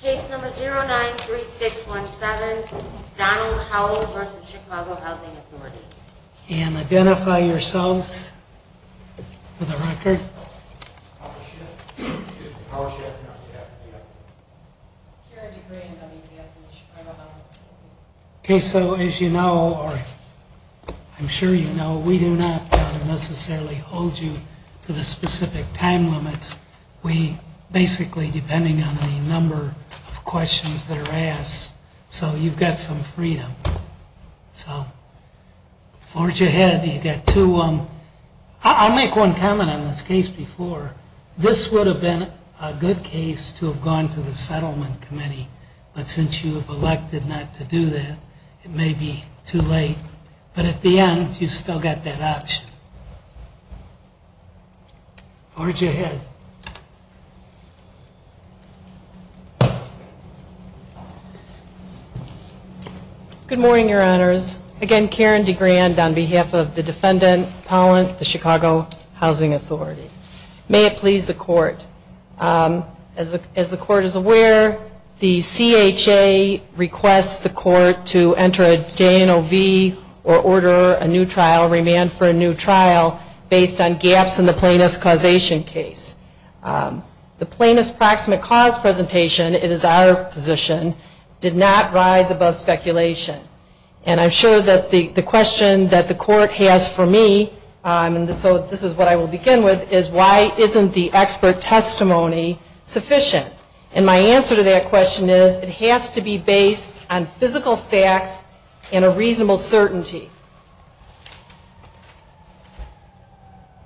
Case number 093617, Donald Howell v. Chicago Housing Authority. And identify yourselves for the record. Okay, so as you know, or I'm sure you know, we do not necessarily hold you to the specific time limits. We basically, depending on the number of questions that are asked, so you've got some freedom. So, forge ahead. You've got two. I'll make one comment on this case before. This would have been a good case to have gone to the settlement committee. But since you have elected not to do that, it may be too late. But at the end, you've still got that option. Forge ahead. Good morning, your honors. Again, Karen DeGrand on behalf of the defendant, Pollant, the Chicago Housing Authority. May it please the court. As the court is aware, the CHA requests the court to enter a JNOV or order a new trial, based on gaps in the plaintiff's causation case. The plaintiff's proximate cause presentation, it is our position, did not rise above speculation. And I'm sure that the question that the court has for me, and so this is what I will begin with, is why isn't the expert testimony sufficient? And my answer to that question is, it has to be based on physical facts and a reasonable certainty.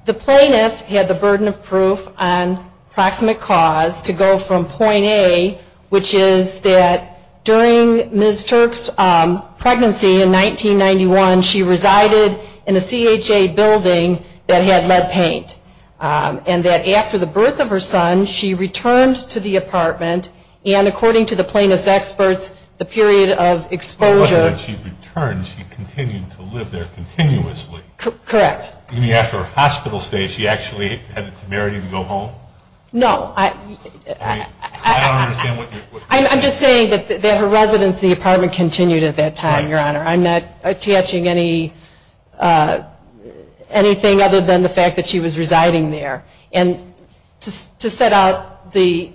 The plaintiff had the burden of proof on proximate cause to go from point A, which is that during Ms. Turk's pregnancy in 1991, she resided in a CHA building that had lead paint. And that after the birth of her son, she returned to the apartment. And according to the plaintiff's experts, the period of exposure... It wasn't that she returned, she continued to live there continuously. Correct. After her hospital stay, she actually had to marry and go home? No. I don't understand what you're... I'm just saying that her residence in the apartment continued at that time, your honor. I'm not attaching anything other than the fact that she was residing there. And to set out the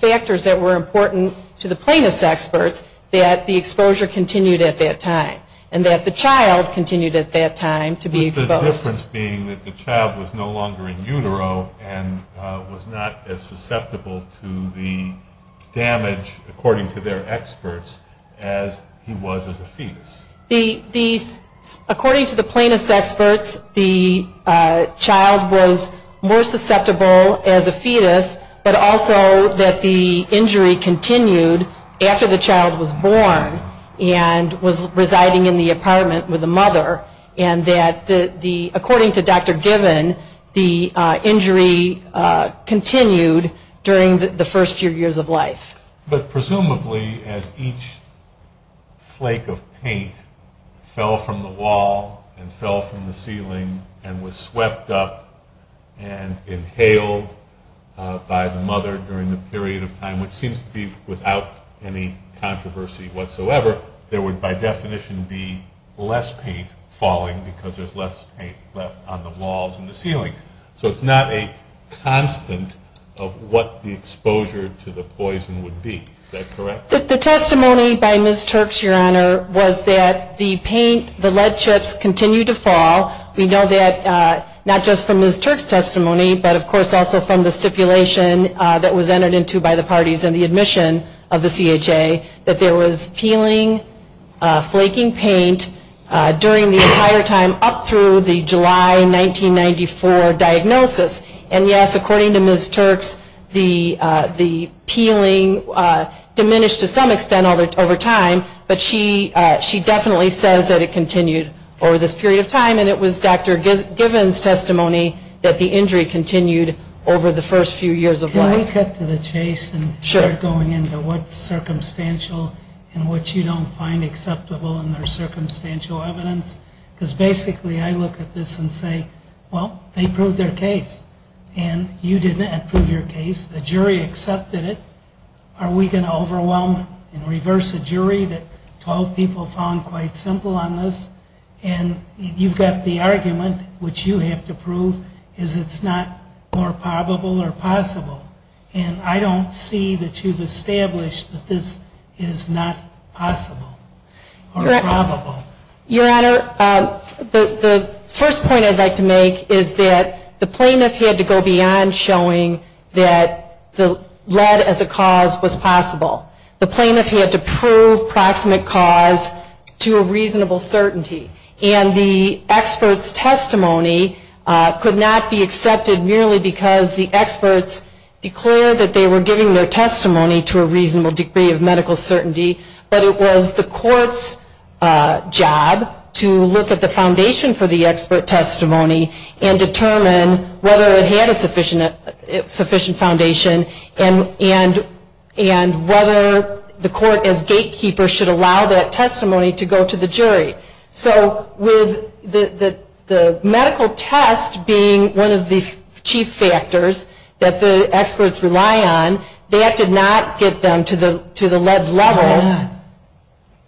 factors that were important to the plaintiff's experts, that the exposure continued at that time, and that the child continued at that time to be exposed. The difference being that the child was no longer in utero and was not as susceptible to the damage, according to their experts, as he was as a fetus. According to the plaintiff's experts, the child was more susceptible as a fetus, but also that the injury continued after the child was born and was residing in the apartment with the mother. And that, according to Dr. Given, the injury continued during the first few years of life. But presumably, as each flake of paint fell from the wall and fell from the ceiling and was swept up and inhaled by the mother during the period of time, which seems to be without any controversy whatsoever, there would by definition be less paint falling because there's less paint left on the walls and the ceiling. So it's not a constant of what the exposure to the poison would be. Is that correct? The testimony by Ms. Turk's, Your Honor, was that the paint, the lead chips, continued to fall. We know that not just from Ms. Turk's testimony, but of course also from the stipulation that was entered into by the parties and the admission of the CHA, that there was peeling, flaking paint during the entire time up through the July 1994 diagnosis. And yes, according to Ms. Turk's, the peeling diminished to some extent over time, but she definitely says that it continued over this period of time. And it was Dr. Given's testimony that the injury continued over the first few years of life. Can we cut to the chase and start going into what's circumstantial and what you don't find acceptable in their circumstantial evidence? Because basically I look at this and say, well, they proved their case. And you did not prove your case. The jury accepted it. Are we going to overwhelm and reverse a jury that 12 people found quite simple on this? And you've got the argument, which you have to prove, is it's not more probable or possible. And I don't see that you've established that this is not possible or probable. Your Honor, the first point I'd like to make is that the plaintiff had to go beyond showing that the lead as a cause was possible. The plaintiff had to prove proximate cause to a reasonable certainty. And the expert's testimony could not be accepted merely because the experts declared that they were giving their testimony to a reasonable degree of medical certainty, but it was the court's job to look at the foundation for the expert testimony and determine whether it had a sufficient foundation and whether the court as gatekeeper should allow that testimony to go to the jury. So with the medical test being one of the chief factors that the experts rely on, that did not get them to the lead level. Why not?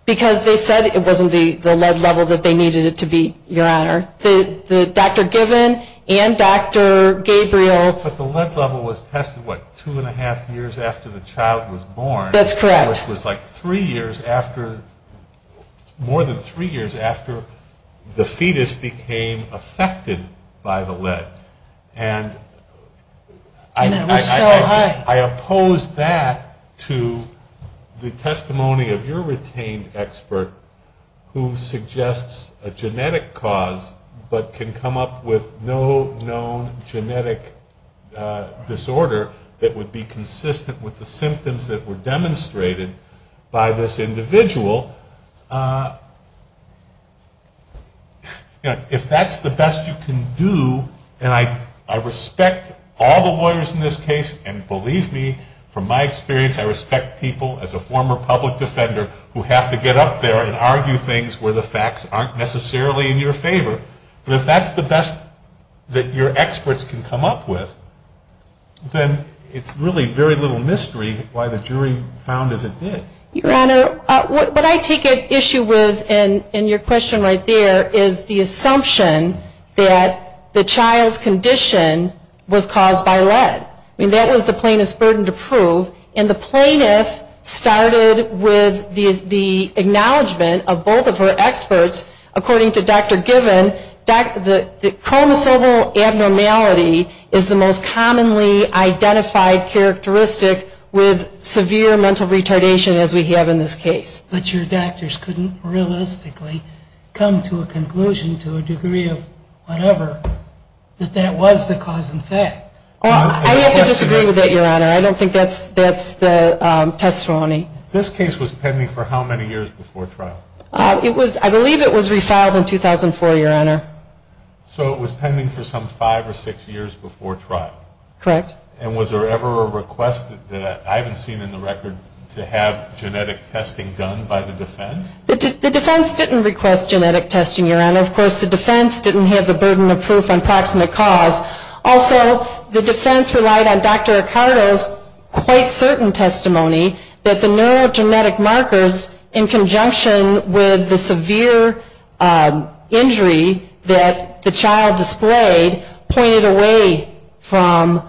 Because they said it wasn't the lead level that they needed it to be, Your Honor. Dr. Given and Dr. Gabriel... But the lead level was tested, what, two and a half years after the child was born? That's correct. Which was like three years after, more than three years after the fetus became affected by the lead. And it was so high. I oppose that to the testimony of your retained expert, who suggests a genetic cause but can come up with no known genetic disorder that would be consistent with the symptoms that were demonstrated by this individual. If that's the best you can do, and I respect all the lawyers in this case, and believe me, from my experience, I respect people as a former public defender who have to get up there and argue things where the facts aren't necessarily in your favor. But if that's the best that your experts can come up with, then it's really very little mystery why the jury found as it did. Your Honor, what I take issue with in your question right there is the assumption that the child's condition was caused by lead. I mean, that was the plaintiff's burden to prove. And the plaintiff started with the acknowledgment of both of her experts. According to Dr. Given, chromosomal abnormality is the most commonly identified characteristic with severe mental retardation as we have in this case. But your doctors couldn't realistically come to a conclusion to a degree of whatever that that was the cause in fact. I would have to disagree with that, Your Honor. I don't think that's the testimony. This case was pending for how many years before trial? I believe it was refiled in 2004, Your Honor. So it was pending for some five or six years before trial? Correct. And was there ever a request that I haven't seen in the record to have genetic testing done by the defense? The defense didn't request genetic testing, Your Honor. Of course, the defense didn't have the burden of proof on proximate cause. Also, the defense relied on Dr. Ricardo's quite certain testimony that the neurogenetic markers, in conjunction with the severe injury that the child displayed, pointed away from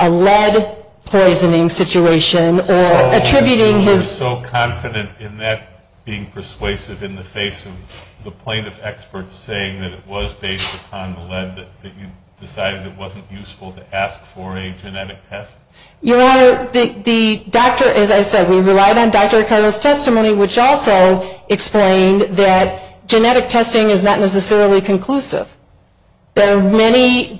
a lead poisoning situation or attributing his So confident in that being persuasive in the face of the plaintiff experts saying that it was based upon the lead, that you decided it wasn't useful to ask for a genetic test? Your Honor, the doctor, as I said, we relied on Dr. Ricardo's testimony, which also explained that genetic testing is not necessarily conclusive. There are many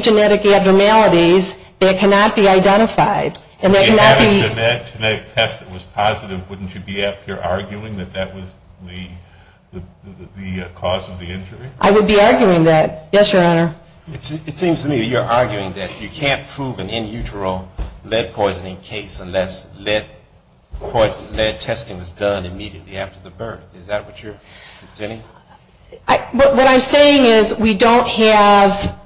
genetic abnormalities that cannot be identified. If you had a genetic test that was positive, wouldn't you be up here arguing that that was the cause of the injury? I would be arguing that. Yes, Your Honor. It seems to me that you're arguing that you can't prove an in utero lead poisoning case unless lead testing was done immediately after the birth. Is that what you're saying? What I'm saying is we don't have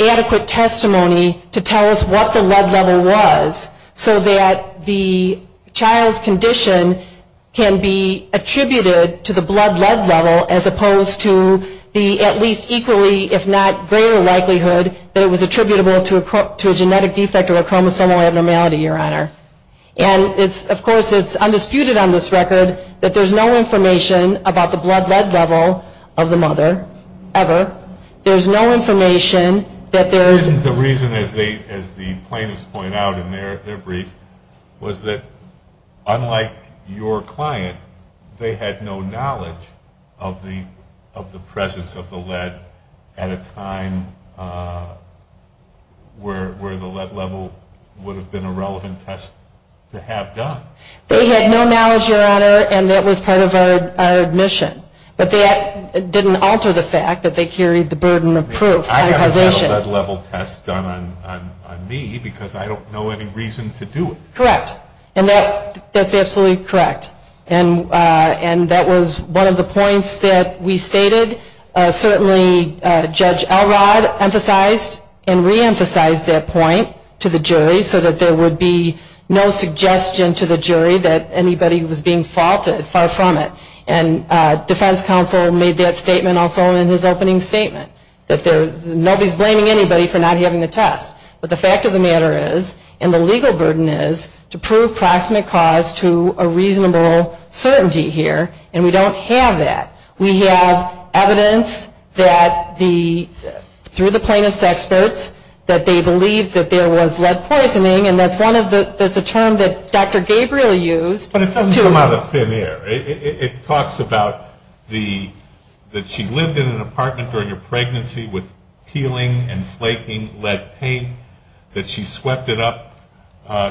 adequate testimony to tell us what the lead level was so that the child's condition can be attributed to the blood lead level as opposed to the at least equally if not greater likelihood that it was attributable to a genetic defect or chromosomal abnormality, Your Honor. And of course it's undisputed on this record that there's no information about the blood lead level of the mother ever. There's no information that there is And the reason, as the plaintiffs point out in their brief, was that unlike your client, they had no knowledge of the presence of the lead at a time where the lead level would have been a relevant test to have done. They had no knowledge, Your Honor, and that was part of our admission. But that didn't alter the fact that they carried the burden of proof on causation. They had a lead level test done on me because I don't know any reason to do it. Correct. And that's absolutely correct. And that was one of the points that we stated. Certainly Judge Elrod emphasized and reemphasized that point to the jury so that there would be no suggestion to the jury that anybody was being faulted, far from it. And defense counsel made that statement also in his opening statement, that nobody's blaming anybody for not having the test. But the fact of the matter is, and the legal burden is, to prove proximate cause to a reasonable certainty here. And we don't have that. We have evidence that through the plaintiff's experts that they believe that there was lead poisoning. And that's a term that Dr. Gabriel used. But it doesn't come out of thin air. It talks about that she lived in an apartment during her pregnancy with peeling and flaking lead paint, that she swept it up,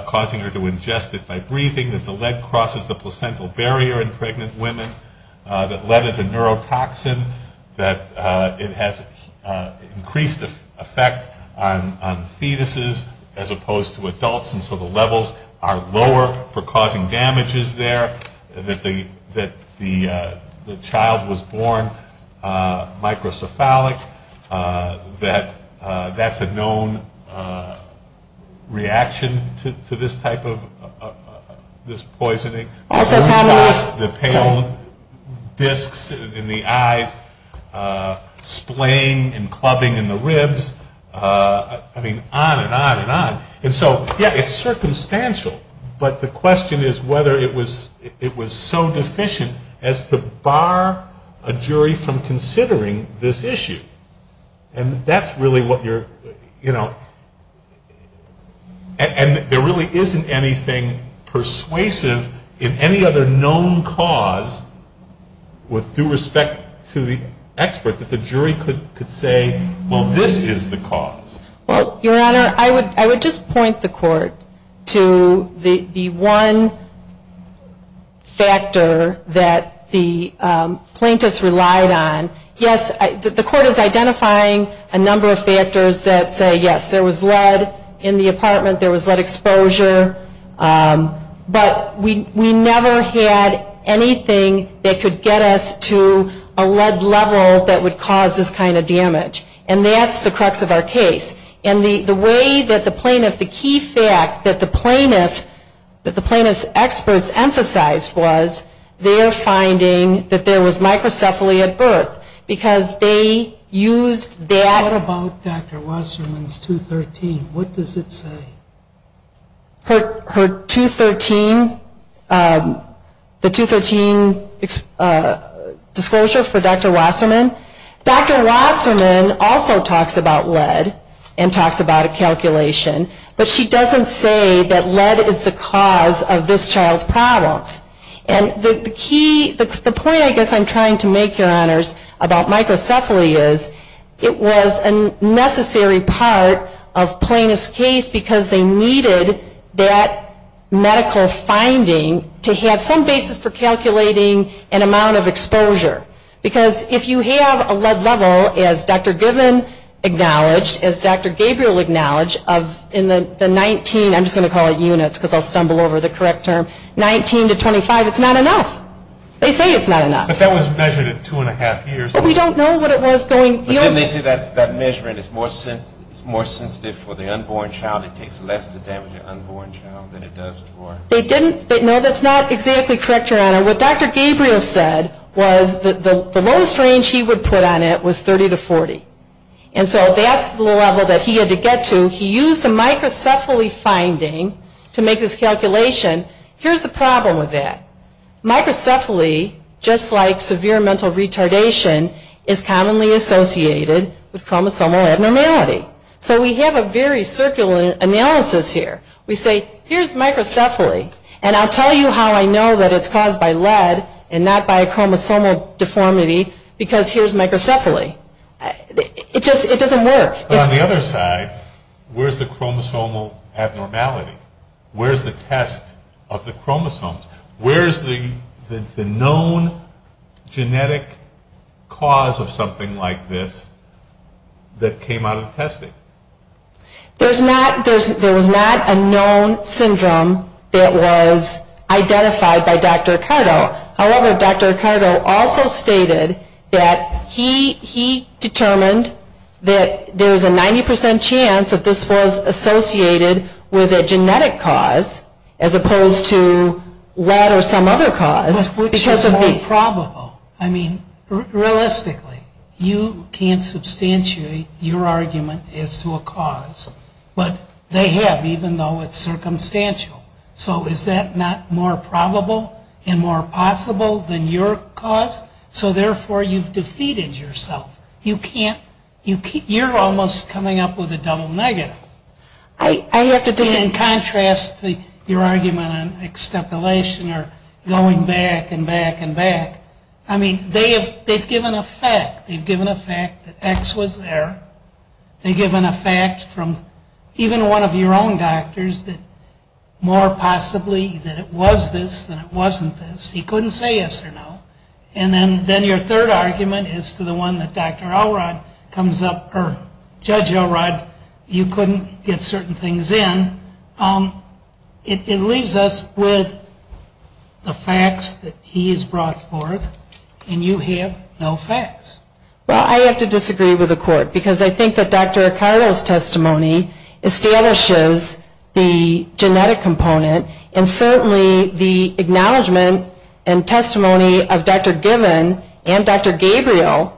causing her to ingest it by breathing, that the lead crosses the placental barrier in pregnant women, that lead is a neurotoxin, that it has increased effect on fetuses as opposed to adults, and so the levels are lower for causing damages there, that the child was born microcephalic, that that's a known reaction to this type of poisoning. The pale disks in the eyes, splaying and clubbing in the ribs, I mean, on and on and on. And so, yeah, it's circumstantial. But the question is whether it was so deficient as to bar a jury from considering this issue. And that's really what you're, you know, and there really isn't anything persuasive in any other known cause with due respect to the expert that the jury could say, well, this is the cause. Well, Your Honor, I would just point the Court to the one factor that the plaintiffs relied on. Yes, the Court is identifying a number of factors that say, yes, there was lead in the apartment, there was lead exposure, but we never had anything that could get us to a lead level that would cause this kind of damage. And that's the crux of our case. And the way that the plaintiff, the key fact that the plaintiff, that the plaintiff's experts emphasized was, they are finding that there was microcephaly at birth because they used that. What about Dr. Wasserman's 213? What does it say? Her 213, the 213 disclosure for Dr. Wasserman? Dr. Wasserman also talks about lead and talks about a calculation, but she doesn't say that lead is the cause of this child's problems. And the key, the point I guess I'm trying to make, Your Honors, about microcephaly is, it was a necessary part of plaintiff's case because they needed that medical finding to have some basis for calculating an amount of exposure. Because if you have a lead level, as Dr. Goodman acknowledged, as Dr. Gabriel acknowledged, of the 19, I'm just going to call it units because I'll stumble over the correct term, 19 to 25, it's not enough. They say it's not enough. But that was measured at two and a half years. But we don't know what it was going. But then they say that measurement is more sensitive for the unborn child. It takes less to damage an unborn child than it does for. They didn't, no, that's not exactly correct, Your Honor. What Dr. Gabriel said was that the lowest range he would put on it was 30 to 40. And so that's the level that he had to get to. He used the microcephaly finding to make this calculation. Here's the problem with that. Microcephaly, just like severe mental retardation, is commonly associated with chromosomal abnormality. So we have a very circular analysis here. We say, here's microcephaly, and I'll tell you how I know that it's caused by lead and not by a chromosomal deformity because here's microcephaly. It just, it doesn't work. But on the other side, where's the chromosomal abnormality? Where's the test of the chromosomes? Where's the known genetic cause of something like this that came out of the testing? There's not, there was not a known syndrome that was identified by Dr. Ricardo. However, Dr. Ricardo also stated that he determined that there was a 90% chance that this was associated with a genetic cause as opposed to lead or some other cause. But which is more probable? I mean, realistically, you can't substantiate your argument as to a cause, but they have, even though it's circumstantial. So is that not more probable and more possible than your cause? So therefore, you've defeated yourself. You can't, you're almost coming up with a double negative. I have to disagree. In contrast to your argument on extrapolation or going back and back and back. I mean, they've given a fact. They've given a fact that X was there. They've given a fact from even one of your own doctors that more possibly that it was this than it wasn't this. He couldn't say yes or no. And then your third argument is to the one that Dr. Elrod comes up, or Judge Elrod, you couldn't get certain things in. It leaves us with the facts that he has brought forth, and you have no facts. Well, I have to disagree with the court because I think that Dr. Acardo's testimony establishes the genetic component and certainly the acknowledgement and testimony of Dr. Gibbon and Dr. Gabriel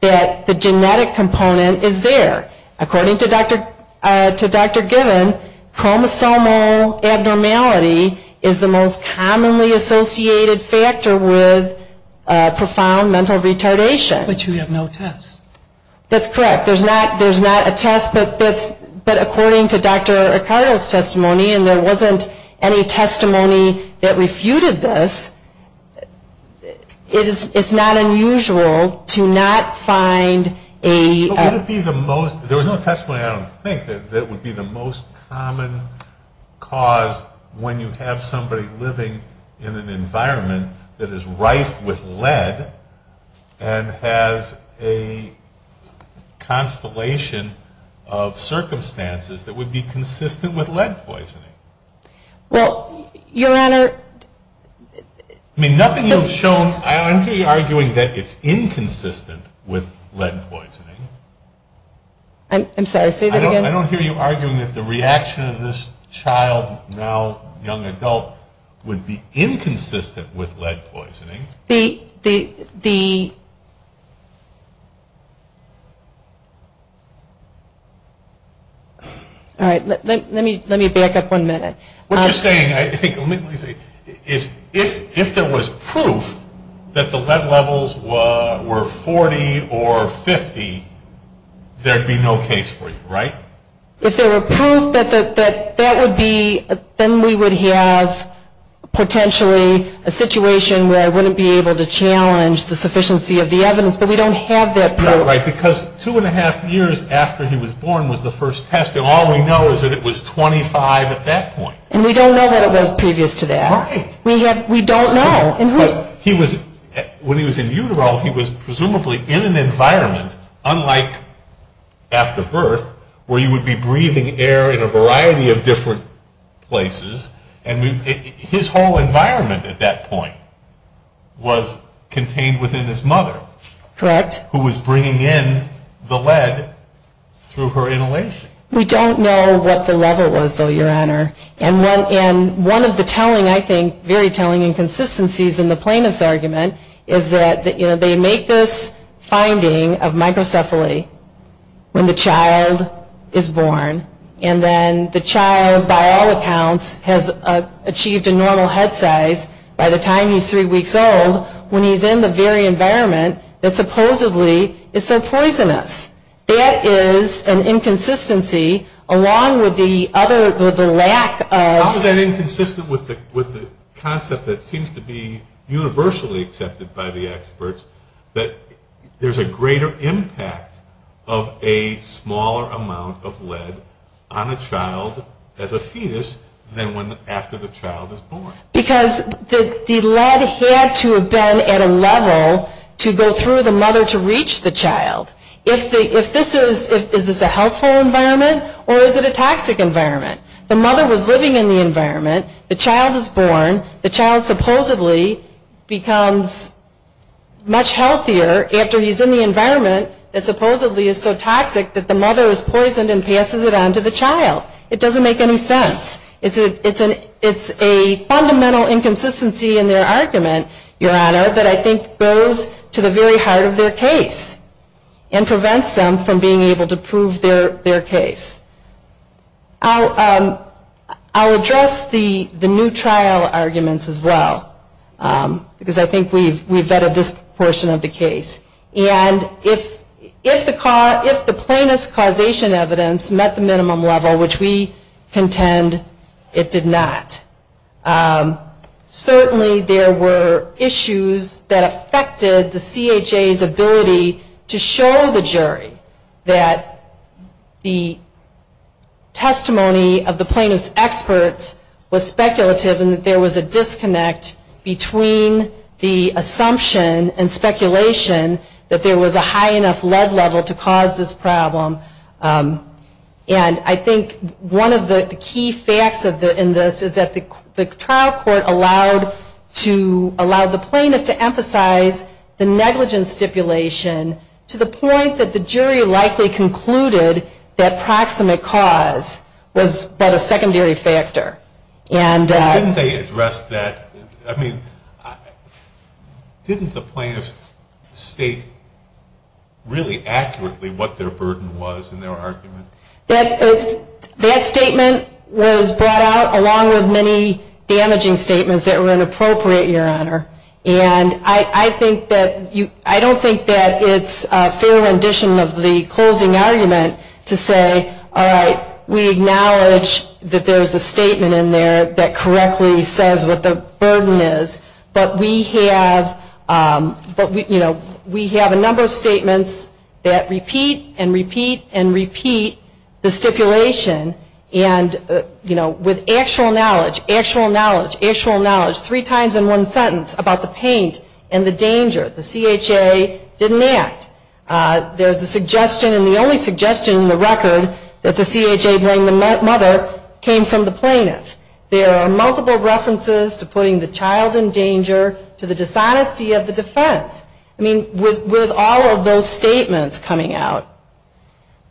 that the genetic component is there. According to Dr. Gibbon, chromosomal abnormality is the most commonly associated factor with profound mental retardation. But you have no tests. That's correct. There's not a test, but according to Dr. Acardo's testimony, and there wasn't any testimony that refuted this, it's not unusual to not find a... There was no testimony I don't think that would be the most common cause when you have somebody living in an environment that is rife with lead and has a constellation of circumstances that would be consistent with lead poisoning. Well, Your Honor... I mean, nothing you've shown... I don't hear you arguing that it's inconsistent with lead poisoning. I'm sorry, say that again. I don't hear you arguing that the reaction of this child, now young adult, would be inconsistent with lead poisoning. The... All right, let me back up one minute. What you're saying, I think, is if there was proof that the lead levels were 40 or 50, there'd be no case for you, right? If there were proof that that would be, then we would have potentially a situation where I wouldn't be able to challenge the sufficiency of the evidence, but we don't have that proof. Right, because two and a half years after he was born was the first test, and all we know is that it was 25 at that point. And we don't know what it was previous to that. Right. We don't know. When he was in utero, he was presumably in an environment, unlike after birth, where you would be breathing air in a variety of different places, and his whole environment at that point was contained within his mother. Correct. Who was bringing in the lead through her inhalation. We don't know what the level was, though, Your Honor. And one of the telling, I think, very telling inconsistencies in the plaintiff's argument is that they make this finding of microcephaly when the child is born, and then the child, by all accounts, has achieved a normal head size by the time he's three weeks old when he's in the very environment that supposedly is so poisonous. That is an inconsistency, along with the lack of... How is that inconsistent with the concept that seems to be universally accepted by the experts, that there's a greater impact of a smaller amount of lead on a child as a fetus than after the child is born? Because the lead had to have been at a level to go through the mother to reach the child. Is this a healthful environment, or is it a toxic environment? The mother was living in the environment. The child is born. The child supposedly becomes much healthier after he's in the environment that supposedly is so toxic that the mother is poisoned and passes it on to the child. It doesn't make any sense. It's a fundamental inconsistency in their argument, Your Honor, that I think goes to the very heart of their case and prevents them from being able to prove their case. I'll address the new trial arguments as well, because I think we've vetted this portion of the case. And if the plaintiff's causation evidence met the minimum level, which we contend it did not, certainly there were issues that affected the CHA's ability to show the jury that the testimony of the plaintiff's experts was speculative and that there was a disconnect between the assumption and speculation that there was a high enough lead level to cause this problem. And I think one of the key facts in this is that the trial court allowed the plaintiff to emphasize the negligence stipulation to the point that the jury likely concluded that proximate cause was but a secondary factor. And didn't they address that? I mean, didn't the plaintiff state really accurately what their burden was in their argument? That statement was brought out along with many damaging statements that were inappropriate, Your Honor. And I don't think that it's a fair rendition of the closing argument to say, all right, we acknowledge that there's a statement in there that correctly says what the burden is, but we have a number of statements that repeat and repeat and repeat the stipulation. And, you know, with actual knowledge, actual knowledge, actual knowledge, three times in one sentence about the pain and the danger, the CHA didn't act. There's a suggestion and the only suggestion in the record that the CHA blamed the mother came from the plaintiff. There are multiple references to putting the child in danger, to the dishonesty of the defense. I mean, with all of those statements coming out,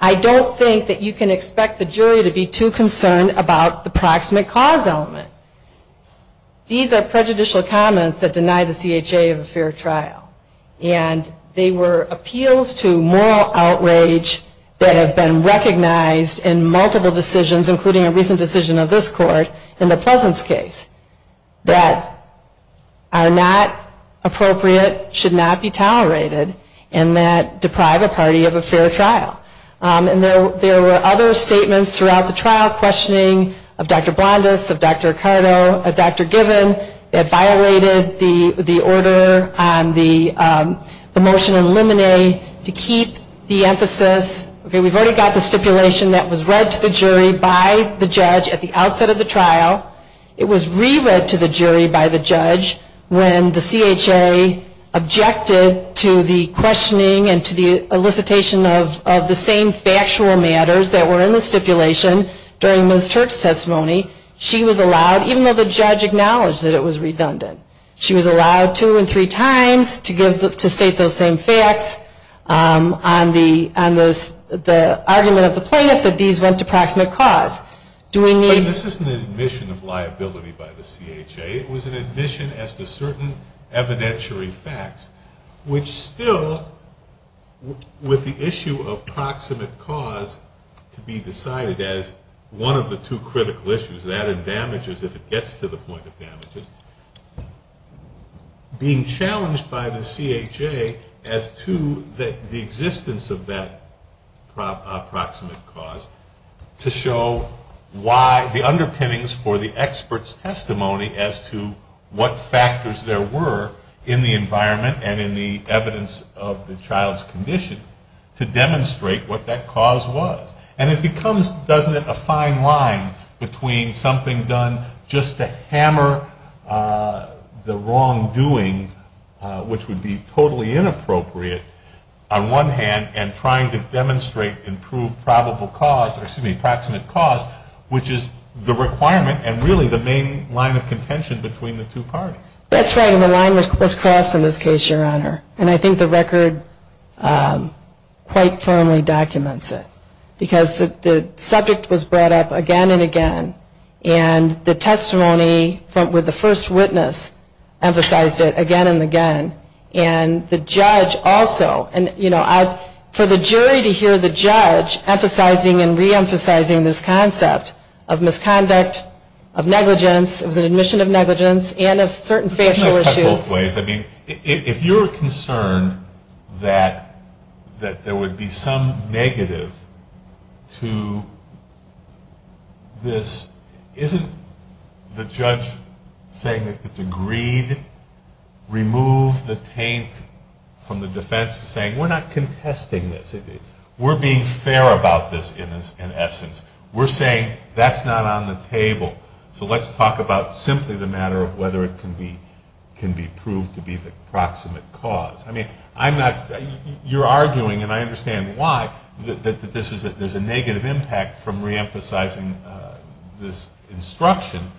I don't think that you can expect the jury to be too concerned about the proximate cause element. These are prejudicial comments that deny the CHA of a fair trial. And they were appeals to moral outrage that have been recognized in multiple decisions, including a recent decision of this court in the Pleasance case, that are not appropriate, should not be tolerated, and that deprive a party of a fair trial. And there were other statements throughout the trial questioning of Dr. Blondis, of Dr. Cardo, of Dr. Given, that violated the order on the motion in limine to keep the emphasis. Okay, we've already got the stipulation that was read to the jury by the judge at the outset of the trial. It was re-read to the jury by the judge when the CHA objected to the questioning and to the elicitation of the same factual matters that were in the stipulation during Ms. Turk's testimony. She was allowed, even though the judge acknowledged that it was redundant, she was allowed two and three times to state those same facts on the argument of the plaintiff that these went to proximate cause. Do we need... But this isn't an admission of liability by the CHA. It was an admission as to certain evidentiary facts, which still, with the issue of proximate cause to be decided as one of the two critical issues, if it gets to the point of damages, being challenged by the CHA as to the existence of that proximate cause to show why the underpinnings for the expert's testimony as to what factors there were in the environment and in the evidence of the child's condition to demonstrate what that cause was. And it becomes, doesn't it, a fine line between something done just to hammer the wrongdoing, which would be totally inappropriate on one hand, and trying to demonstrate and prove probable cause, or excuse me, proximate cause, which is the requirement and really the main line of contention between the two parties. That's right, and the line was crossed in this case, Your Honor. And I think the record quite firmly documents it. Because the subject was brought up again and again, and the testimony with the first witness emphasized it again and again. And the judge also, and, you know, for the jury to hear the judge emphasizing and reemphasizing this concept of misconduct, of negligence, it was an admission of negligence, and of certain facial issues. If you're concerned that there would be some negative to this, isn't the judge saying that it's agreed, remove the taint from the defense, saying we're not contesting this. We're being fair about this in essence. We're saying that's not on the table. So let's talk about simply the matter of whether it can be proved to be the proximate cause. I mean, you're arguing, and I understand why, that there's a negative impact from reemphasizing this instruction.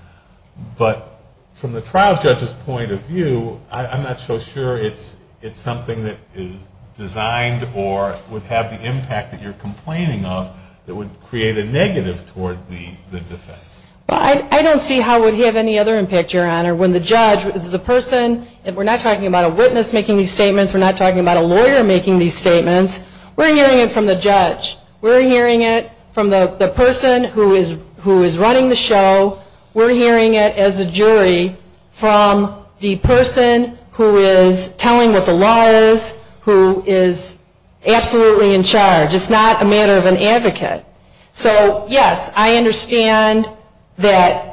But from the trial judge's point of view, I'm not so sure it's something that is designed or would have the impact that you're complaining of that would create a negative toward the defense. Well, I don't see how it would have any other impact, Your Honor. When the judge is a person, and we're not talking about a witness making these statements. We're not talking about a lawyer making these statements. We're hearing it from the judge. We're hearing it from the person who is running the show. We're hearing it as a jury from the person who is telling what the law is, who is absolutely in charge. It's not a matter of an advocate. So, yes, I understand that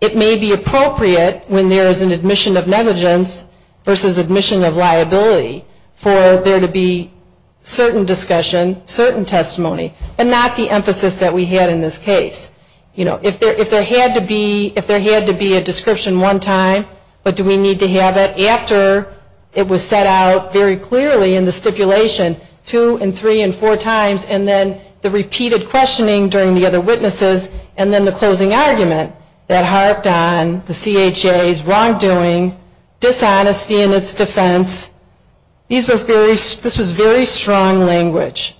it may be appropriate when there is an admission of negligence versus admission of liability for there to be certain discussion, certain testimony, and not the emphasis that we had in this case. You know, if there had to be a description one time, but do we need to have it after it was set out very clearly in the stipulation two and three and four times, and then the repeated questioning during the other witnesses, and then the closing argument that harped on the CHA's wrongdoing, dishonesty in its defense, this was very strong language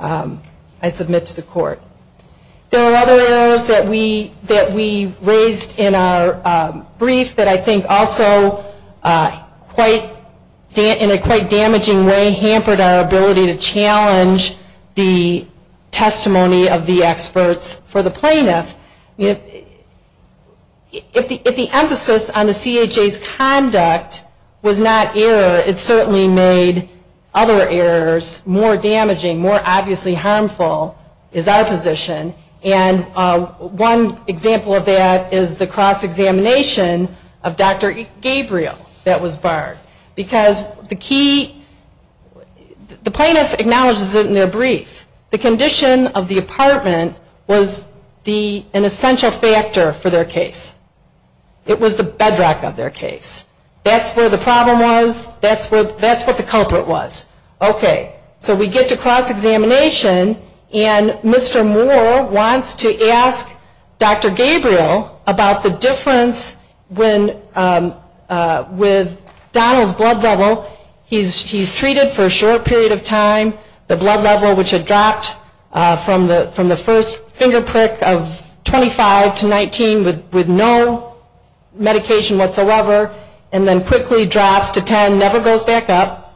I submit to the court. There are other errors that we raised in our brief that I think also in a quite damaging way hampered our ability to challenge the testimony of the experts for the plaintiff. If the emphasis on the CHA's conduct was not error, it certainly made other errors more damaging, more obviously harmful, is our position, and one example of that is the cross-examination of Dr. Gabriel that was barred. Because the key, the plaintiff acknowledges it in their brief. The condition of the apartment was an essential factor for their case. It was the bedrock of their case. That's where the problem was. That's what the culprit was. Okay. So we get to cross-examination, and Mr. Moore wants to ask Dr. Gabriel about the difference with Donald's blood level. He's treated for a short period of time. The blood level which had dropped from the first finger prick of 25 to 19 with no medication whatsoever, and then quickly drops to 10, never goes back up.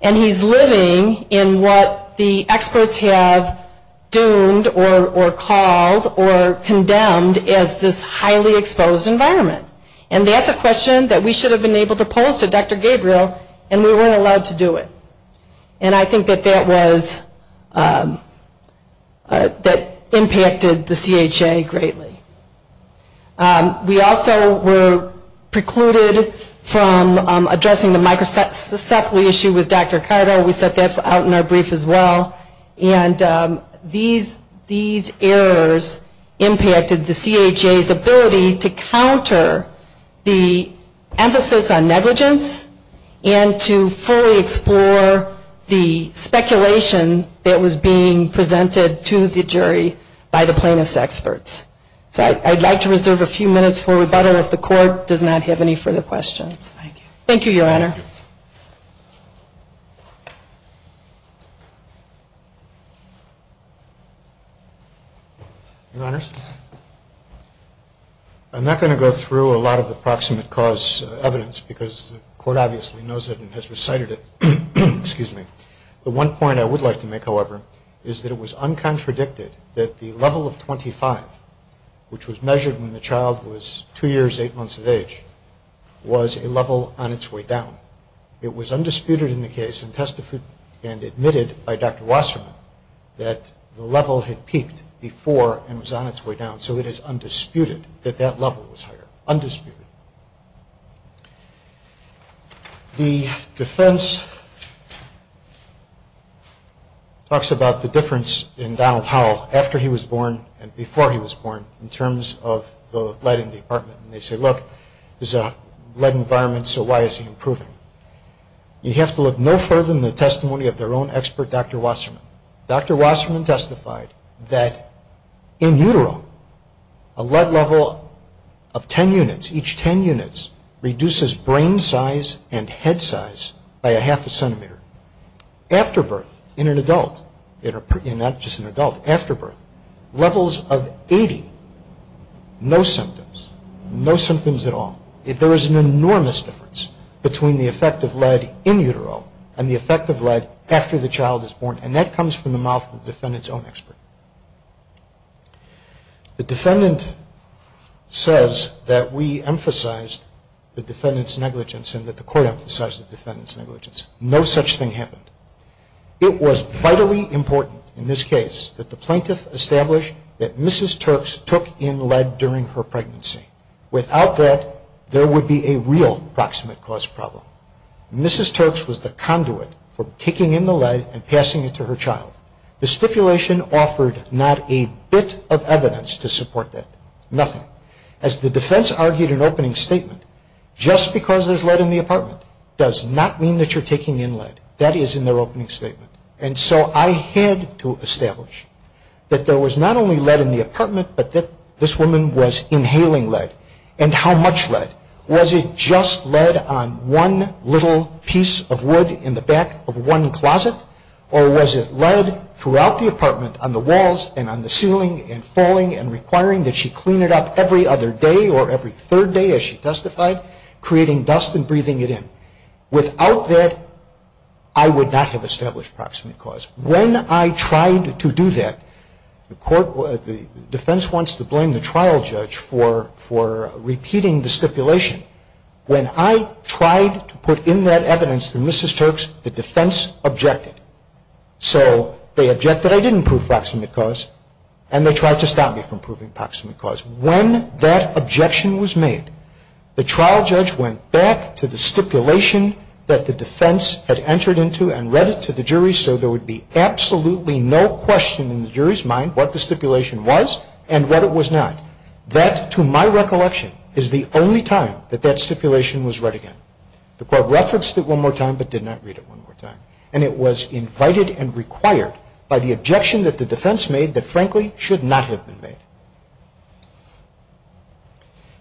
And he's living in what the experts have doomed or called or condemned as this highly exposed environment. And that's a question that we should have been able to pose to Dr. Gabriel, and we weren't allowed to do it. And I think that that was, that impacted the CHA greatly. We also were precluded from addressing the microcephaly issue with Dr. Carter. We set that out in our brief as well. And these errors impacted the CHA's ability to counter the emphasis on negligence, and to fully explore the speculation that was being presented to the jury by the plaintiff's experts. So I'd like to reserve a few minutes for rebuttal if the court does not have any further questions. Thank you. Your Honors, I'm not going to go through a lot of the proximate cause evidence, because the court obviously knows it and has recited it. The one point I would like to make, however, is that it was uncontradicted that the level of 25, which was measured when the child was 2 years, 8 months of age, was a level on its way down. It was undisputed in the case and admitted by Dr. Wasserman that the level had peaked before and was on its way down. So it is undisputed that that level was higher. Undisputed. The defense talks about the difference in Donald Howell after he was born and before he was born in terms of the lead in the apartment. And they say, look, there's a lead environment, so why is he improving? You have to look no further than the testimony of their own expert, Dr. Wasserman. Dr. Wasserman testified that in utero, a lead level of 10 units, each 10 units, reduces brain size and head size by a half a centimeter. After birth, in an adult, not just an adult, after birth, levels of 80, no symptoms. No symptoms at all. There is an enormous difference between the effect of lead in utero and the effect of lead after the child is born. And that comes from the mouth of the defendant's own expert. The defendant says that we emphasized the defendant's negligence and that the court emphasized the defendant's negligence. No such thing happened. It was vitally important in this case that the plaintiff establish that Mrs. Turks took in lead during her pregnancy. Without that, there would be a real proximate cause problem. Mrs. Turks was the conduit for taking in the lead and passing it to her child. The stipulation offered not a bit of evidence to support that, nothing. As the defense argued in opening statement, just because there's lead in the apartment does not mean that you're taking in lead. That is in their opening statement. And so I had to establish that there was not only lead in the apartment, but that this woman was inhaling lead. And how much lead? Was it just lead on one little piece of wood in the back of one closet? Or was it lead throughout the apartment on the walls and on the ceiling and falling and requiring that she clean it up every other day or every third day as she testified, creating dust and breathing it in? Without that, I would not have established proximate cause. When I tried to do that, the defense wants to blame the trial judge for repeating the stipulation. When I tried to put in that evidence to Mrs. Turks, the defense objected. So they objected I didn't prove proximate cause, and they tried to stop me from proving proximate cause. When that objection was made, the trial judge went back to the stipulation that the defense had entered into and read it to the jury so there would be absolutely no question in the jury's mind what the stipulation was and what it was not. That, to my recollection, is the only time that that stipulation was read again. The court referenced it one more time but did not read it one more time. And it was invited and required by the objection that the defense made that frankly should not have been made.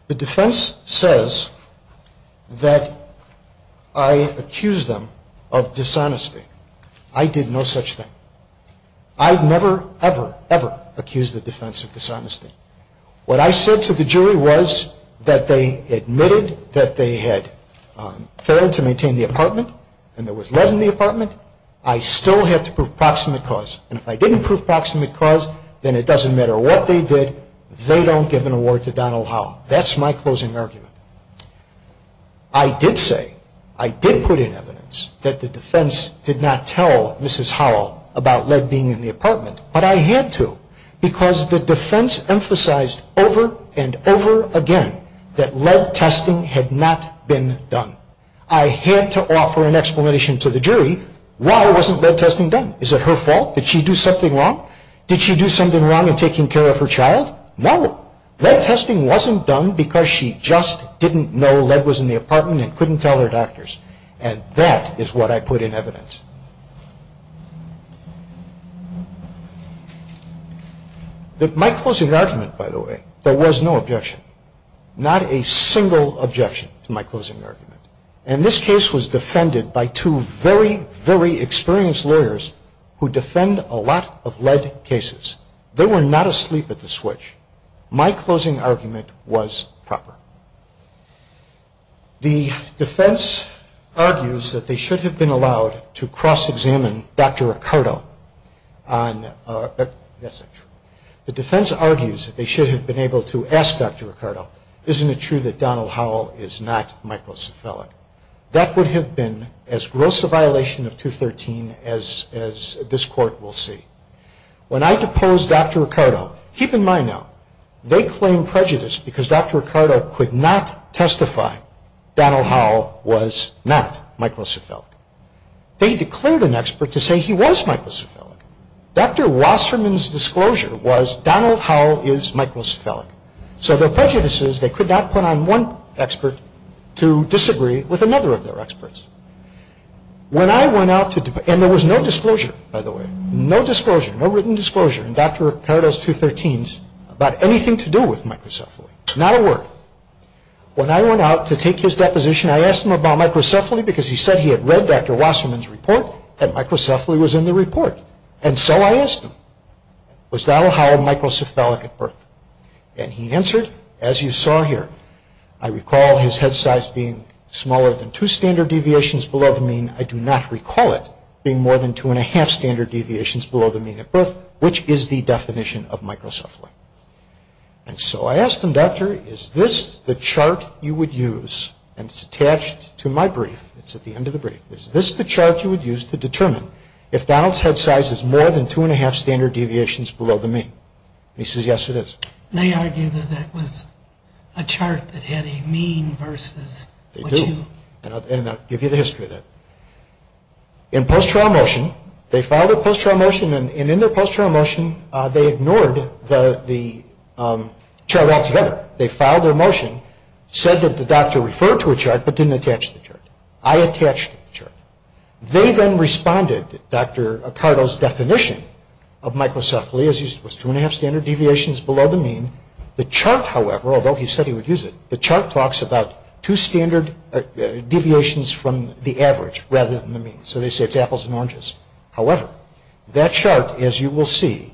The defense says that I accused them of dishonesty. I did no such thing. I've never, ever, ever accused the defense of dishonesty. What I said to the jury was that they admitted that they had failed to maintain the apartment and there was lead in the apartment. I still had to prove proximate cause. And if I didn't prove proximate cause, then it doesn't matter what they did, they don't give an award to Donald Howell. That's my closing argument. I did say, I did put in evidence that the defense did not tell Mrs. Howell about lead being in the apartment, but I had to because the defense emphasized over and over again that lead testing had not been done. I had to offer an explanation to the jury. Why wasn't lead testing done? Is it her fault? Did she do something wrong? Did she do something wrong in taking care of her child? No. Lead testing wasn't done because she just didn't know lead was in the apartment and couldn't tell her doctors. And that is what I put in evidence. My closing argument, by the way, there was no objection. Not a single objection to my closing argument. And this case was defended by two very, very experienced lawyers who defend a lot of lead cases. They were not asleep at the switch. My closing argument was proper. The defense argues that they should have been allowed to cross-examine Dr. Ricardo. That's not true. The defense argues that they should have been able to ask Dr. Ricardo, isn't it true that Donald Howell is not microcephalic? That would have been as gross a violation of 213 as this court will see. When I deposed Dr. Ricardo, keep in mind now, they claimed prejudice because Dr. Ricardo could not testify Donald Howell was not microcephalic. They declared an expert to say he was microcephalic. Dr. Wasserman's disclosure was Donald Howell is microcephalic. So their prejudice is they could not put on one expert to disagree with another of their experts. And there was no disclosure, by the way. No written disclosure in Dr. Ricardo's 213s about anything to do with microcephaly. Not a word. When I went out to take his deposition, I asked him about microcephaly because he said he had read Dr. Wasserman's report and microcephaly was in the report. And so I asked him, was Donald Howell microcephalic at birth? And he answered, as you saw here, I recall his head size being smaller than two standard deviations below the mean. I do not recall it being more than two and a half standard deviations below the mean at birth, which is the definition of microcephaly. And so I asked him, Doctor, is this the chart you would use? And it's attached to my brief. It's at the end of the brief. Is this the chart you would use to determine if Donald's head size is more than two and a half standard deviations below the mean? And he says, yes, it is. They argue that that was a chart that had a mean versus what you... They do. And I'll give you the history of that. In post-trial motion, they filed a post-trial motion, and in their post-trial motion they ignored the chart altogether. They filed their motion, said that the doctor referred to a chart, but didn't attach the chart. I attached the chart. They then responded that Dr. Acardo's definition of microcephaly, as he said, was two and a half standard deviations below the mean. The chart, however, although he said he would use it, the chart talks about two standard deviations from the average rather than the mean. So they say it's apples and oranges. However, that chart, as you will see,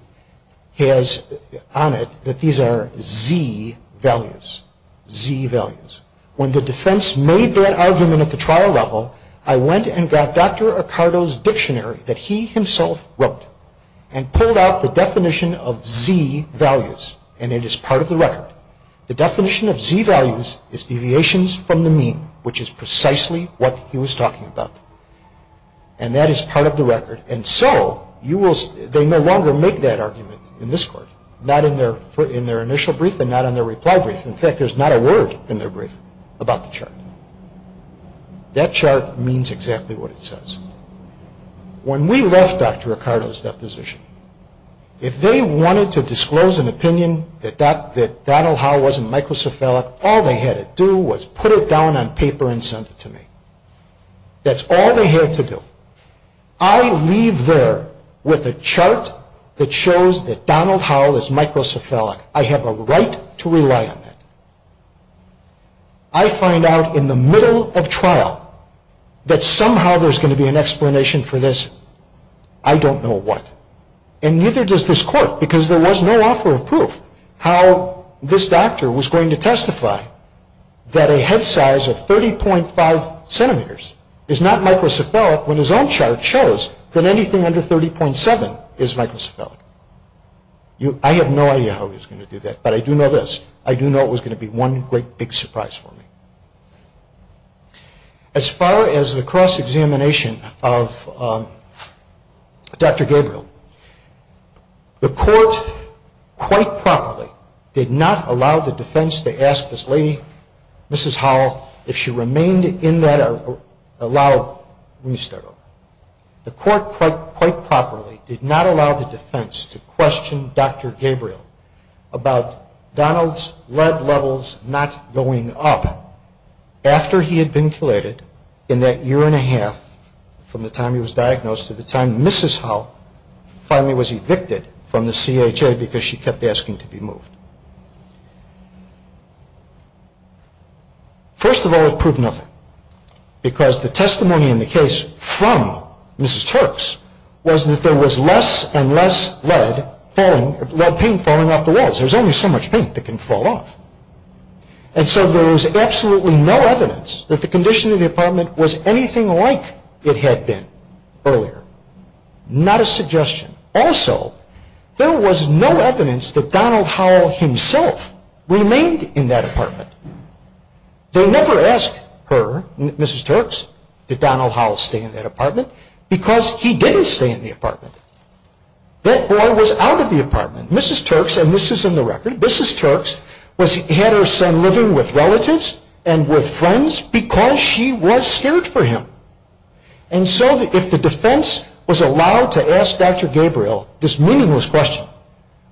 has on it that these are Z values, Z values. When the defense made that argument at the trial level, I went and got Dr. Acardo's dictionary that he himself wrote and pulled out the definition of Z values, and it is part of the record. The definition of Z values is deviations from the mean, which is precisely what he was talking about. And that is part of the record. And so they no longer make that argument in this court, not in their initial brief and not in their reply brief. In fact, there's not a word in their brief about the chart. That chart means exactly what it says. When we left Dr. Acardo's deposition, if they wanted to disclose an opinion that Donald Howell wasn't microcephalic, all they had to do was put it down on paper and send it to me. That's all they had to do. I leave there with a chart that shows that Donald Howell is microcephalic. I have a right to rely on that. I find out in the middle of trial that somehow there's going to be an explanation for this. I don't know what. And neither does this court, because there was no offer of proof, how this doctor was going to testify that a head size of 30.5 centimeters is not microcephalic when his own chart shows that anything under 30.7 is microcephalic. I have no idea how he was going to do that, but I do know this. I do know it was going to be one great big surprise for me. As far as the cross-examination of Dr. Gabriel, the court quite properly did not allow the defense to ask this lady, Mrs. Howell, if she remained in that allowed, let me start over. The court quite properly did not allow the defense to question Dr. Gabriel about Donald's lead levels not going up after he had been chelated in that year and a half from the time he was diagnosed to the time Mrs. Howell finally was evicted from the CHA because she kept asking to be moved. First of all, it proved nothing, because the testimony in the case from Mrs. Turks was that there was less and less lead paint falling off the walls. There's only so much paint that can fall off. And so there was absolutely no evidence that the condition of the apartment was anything like it had been earlier. Not a suggestion. Also, there was no evidence that Donald Howell himself remained in that apartment. They never asked her, Mrs. Turks, did Donald Howell stay in that apartment because he didn't stay in the apartment. That boy was out of the apartment. Mrs. Turks, and this is in the record, Mrs. Turks had her son living with relatives and with friends because she was scared for him. And so if the defense was allowed to ask Dr. Gabriel this meaningless question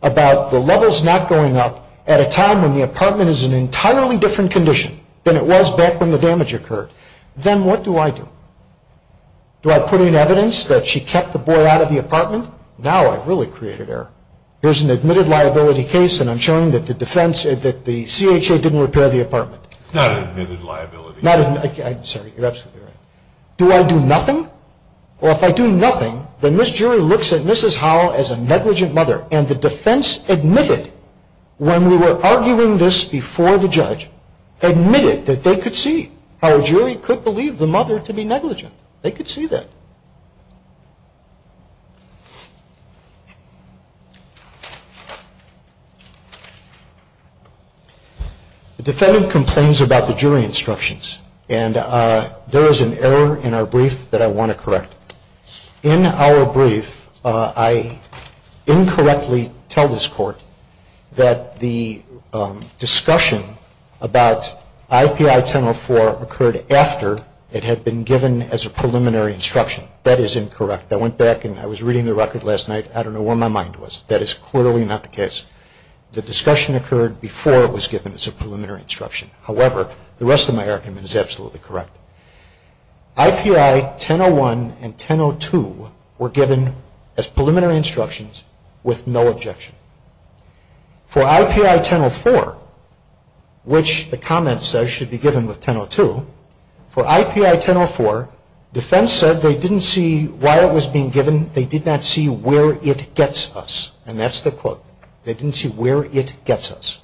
about the levels not going up at a time when the apartment is in an entirely different condition than it was back when the damage occurred, then what do I do? Do I put in evidence that she kept the boy out of the apartment? Now I've really created error. Here's an admitted liability case, and I'm showing that the defense, that the CHA didn't repair the apartment. It's not admitted liability. I'm sorry, you're absolutely right. Do I do nothing? Well, if I do nothing, then this jury looks at Mrs. Howell as a negligent mother, and the defense admitted when we were arguing this before the judge, admitted that they could see how a jury could believe the mother to be negligent. They could see that. The defendant complains about the jury instructions, and there is an error in our brief that I want to correct. In our brief, I incorrectly tell this court that the discussion about IPI 1004 occurred after it had been given as a preliminary instruction. That is incorrect. I went back, and I was reading the record last night. I don't know where my mind was. That is clearly not the case. The discussion occurred before it was given as a preliminary instruction. However, the rest of my argument is absolutely correct. IPI 1001 and 1002 were given as preliminary instructions with no objection. For IPI 1004, which the comment says should be given with 1002, for IPI 1004, defense said they didn't see why it was being given. They did not see where it gets us, and that's the quote. They didn't see where it gets us.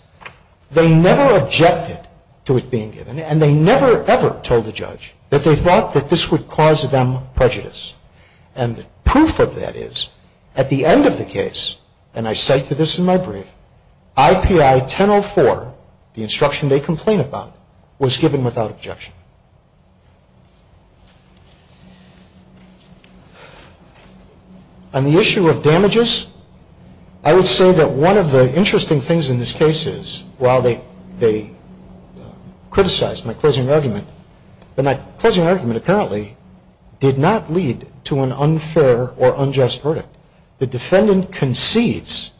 They never objected to it being given, and they never ever told the judge that they thought that this would cause them prejudice. And the proof of that is at the end of the case, and I cite to this in my brief, IPI 1004, the instruction they complain about, was given without objection. On the issue of damages, I would say that one of the interesting things in this case is, while they criticized my closing argument, that my closing argument apparently did not lead to an unfair or unjust verdict. The defendant concedes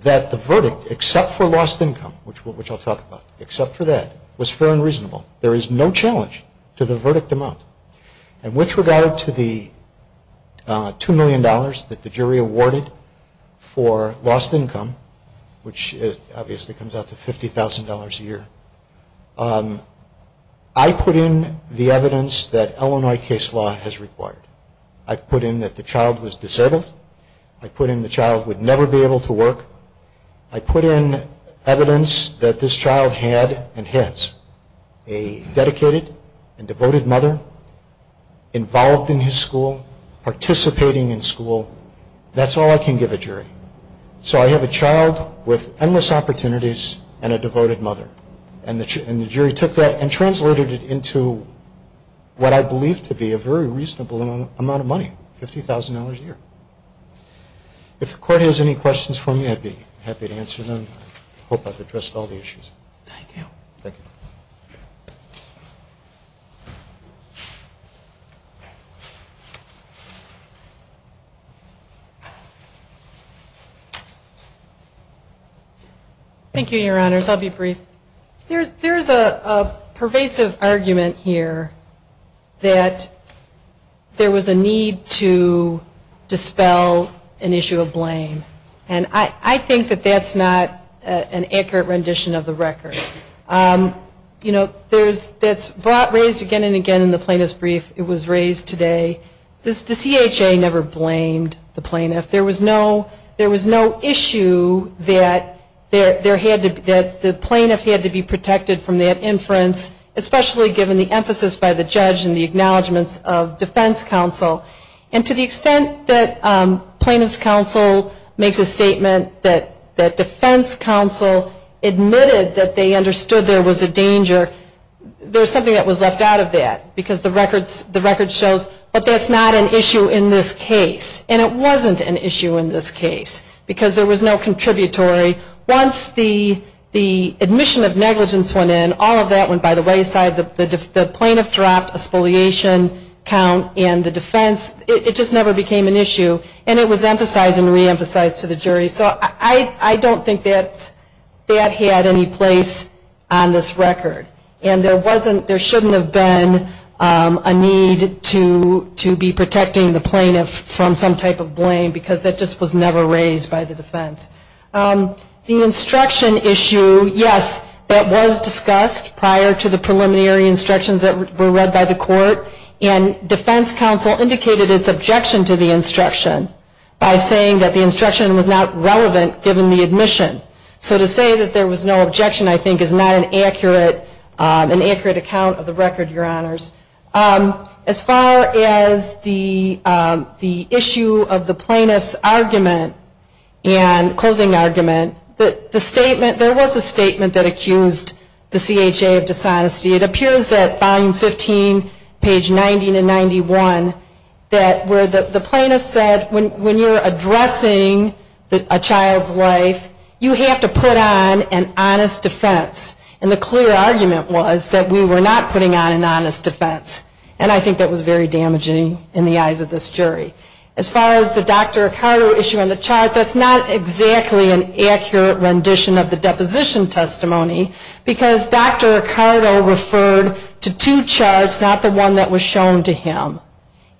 that the verdict, except for lost income, which I'll talk about, except for that, was fair and reasonable. There is no challenge to the verdict amount. And with regard to the $2 million that the jury awarded for lost income, which obviously comes out to $50,000 a year, I put in the evidence that Illinois case law has required. I've put in that the child was disabled. I put in the child would never be able to work. I put in evidence that this child had and has a dedicated and devoted mother involved in his school, participating in school. That's all I can give a jury. So I have a child with endless opportunities and a devoted mother. And the jury took that and translated it into what I believe to be a very reasonable amount of money, $50,000 a year. If the court has any questions for me, I'd be happy to answer them. I hope I've addressed all the issues. Thank you. Thank you. Thank you, Your Honors. I'll be brief. There's a pervasive argument here that there was a need to dispel an issue of blame. And I think that that's not an accurate rendition of the record. You know, that's raised again and again in the plaintiff's brief. It was raised today. The CHA never blamed the plaintiff. There was no issue that the plaintiff had to be protected from that inference, especially given the emphasis by the judge and the acknowledgments of defense counsel. And to the extent that plaintiff's counsel makes a statement that defense counsel admitted that they understood there was a danger, there's something that was left out of that because the record shows, but that's not an issue in this case. And it wasn't an issue in this case because there was no contributory. Once the admission of negligence went in, all of that went by the wayside. The plaintiff dropped a spoliation count in the defense. It just never became an issue. And it was emphasized and reemphasized to the jury. So I don't think that had any place on this record. And there shouldn't have been a need to be protecting the plaintiff from some type of blame, because that just was never raised by the defense. The instruction issue, yes, that was discussed prior to the preliminary instructions that were read by the court. And defense counsel indicated its objection to the instruction by saying that the instruction was not relevant, given the admission. So to say that there was no objection, I think, is not an accurate account of the record, Your Honors. As far as the issue of the plaintiff's argument and closing argument, the statement, there was a statement that accused the CHA of dishonesty. It appears at volume 15, page 90 to 91, that where the plaintiff said, when you're addressing a child's life, you have to put on an honest defense. And the clear argument was that we were not putting on an honest defense. And I think that was very damaging in the eyes of this jury. As far as the Dr. Ricardo issue on the chart, that's not exactly an accurate rendition of the deposition testimony, because Dr. Ricardo referred to two charts, not the one that was shown to him,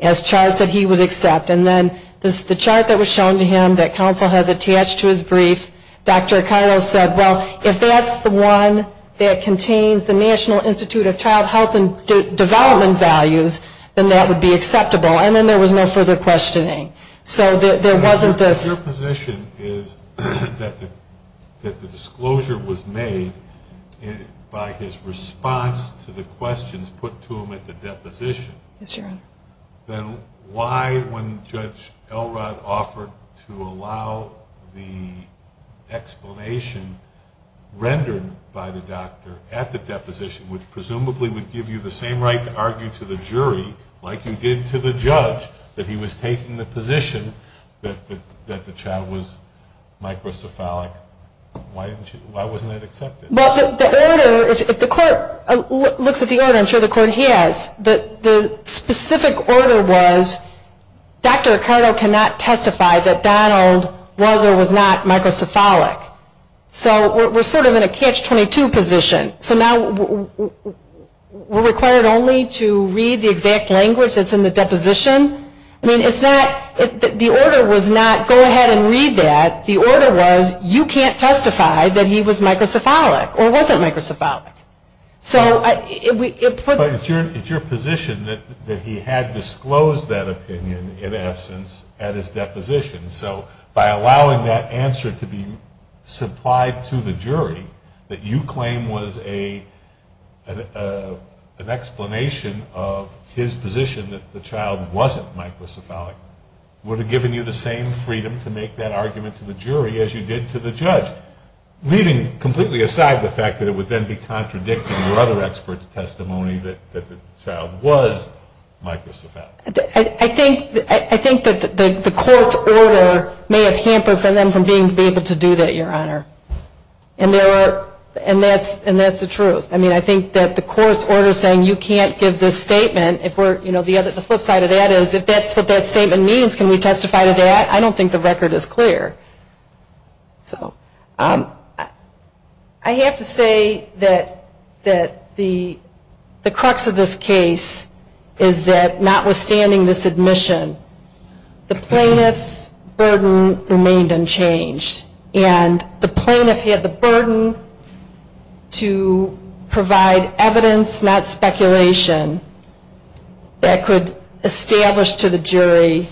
as charts that he would accept. And then the chart that was shown to him that counsel has attached to his brief, Dr. Ricardo said, well, if that's the one that contains the National Institute of Child Health and Development values, then that would be acceptable. And then there was no further questioning. So there wasn't this. Your position is that the disclosure was made by his response to the questions put to him at the deposition. Yes, Your Honor. Then why, when Judge Elrod offered to allow the explanation rendered by the doctor at the deposition, which presumably would give you the same right to argue to the jury, like you did to the judge, that he was taking the position that the child was microcephalic, why wasn't that accepted? Well, the order, if the court looks at the order, I'm sure the court has, the specific order was, Dr. Ricardo cannot testify that Donald was or was not microcephalic. So we're sort of in a catch-22 position. So now we're required only to read the exact language that's in the deposition. I mean, it's not, the order was not go ahead and read that. The order was, you can't testify that he was microcephalic or wasn't microcephalic. But it's your position that he had disclosed that opinion, in essence, at his deposition. So by allowing that answer to be supplied to the jury that you claim was an explanation of his position that the child wasn't microcephalic, would have given you the same freedom to make that argument to the jury as you did to the judge, leaving completely aside the fact that it would then be contradicting your other expert's testimony that the child was microcephalic. I think that the court's order may have hampered for them from being able to do that, Your Honor. And that's the truth. I mean, I think that the court's order saying you can't give this statement, if we're, you know, the flip side of that is if that's what that statement means, can we testify to that? I don't think the record is clear. I have to say that the crux of this case is that notwithstanding this admission, the plaintiff's burden remained unchanged. And the plaintiff had the burden to provide evidence, not speculation, that could establish to the jury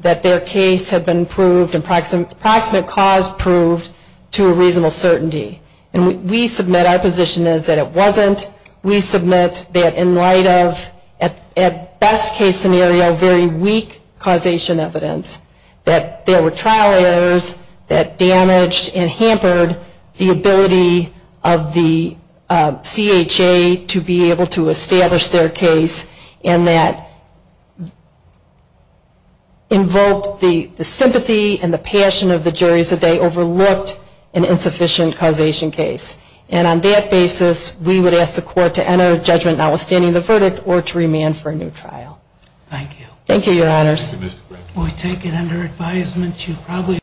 that their case had been proved, approximate cause proved, to a reasonable certainty. And we submit our position is that it wasn't. We submit that in light of, at best case scenario, very weak causation evidence, that there were trial errors that damaged and hampered the ability of the CHA to be able to establish their case, and that invoked the sympathy and the passion of the jury so they overlooked an insufficient causation case. And on that basis, we would ask the court to enter a judgment notwithstanding the verdict or to remand for a new trial. Thank you. Thank you, Your Honors. Thank you, Mr. Graves. We take it under advisement.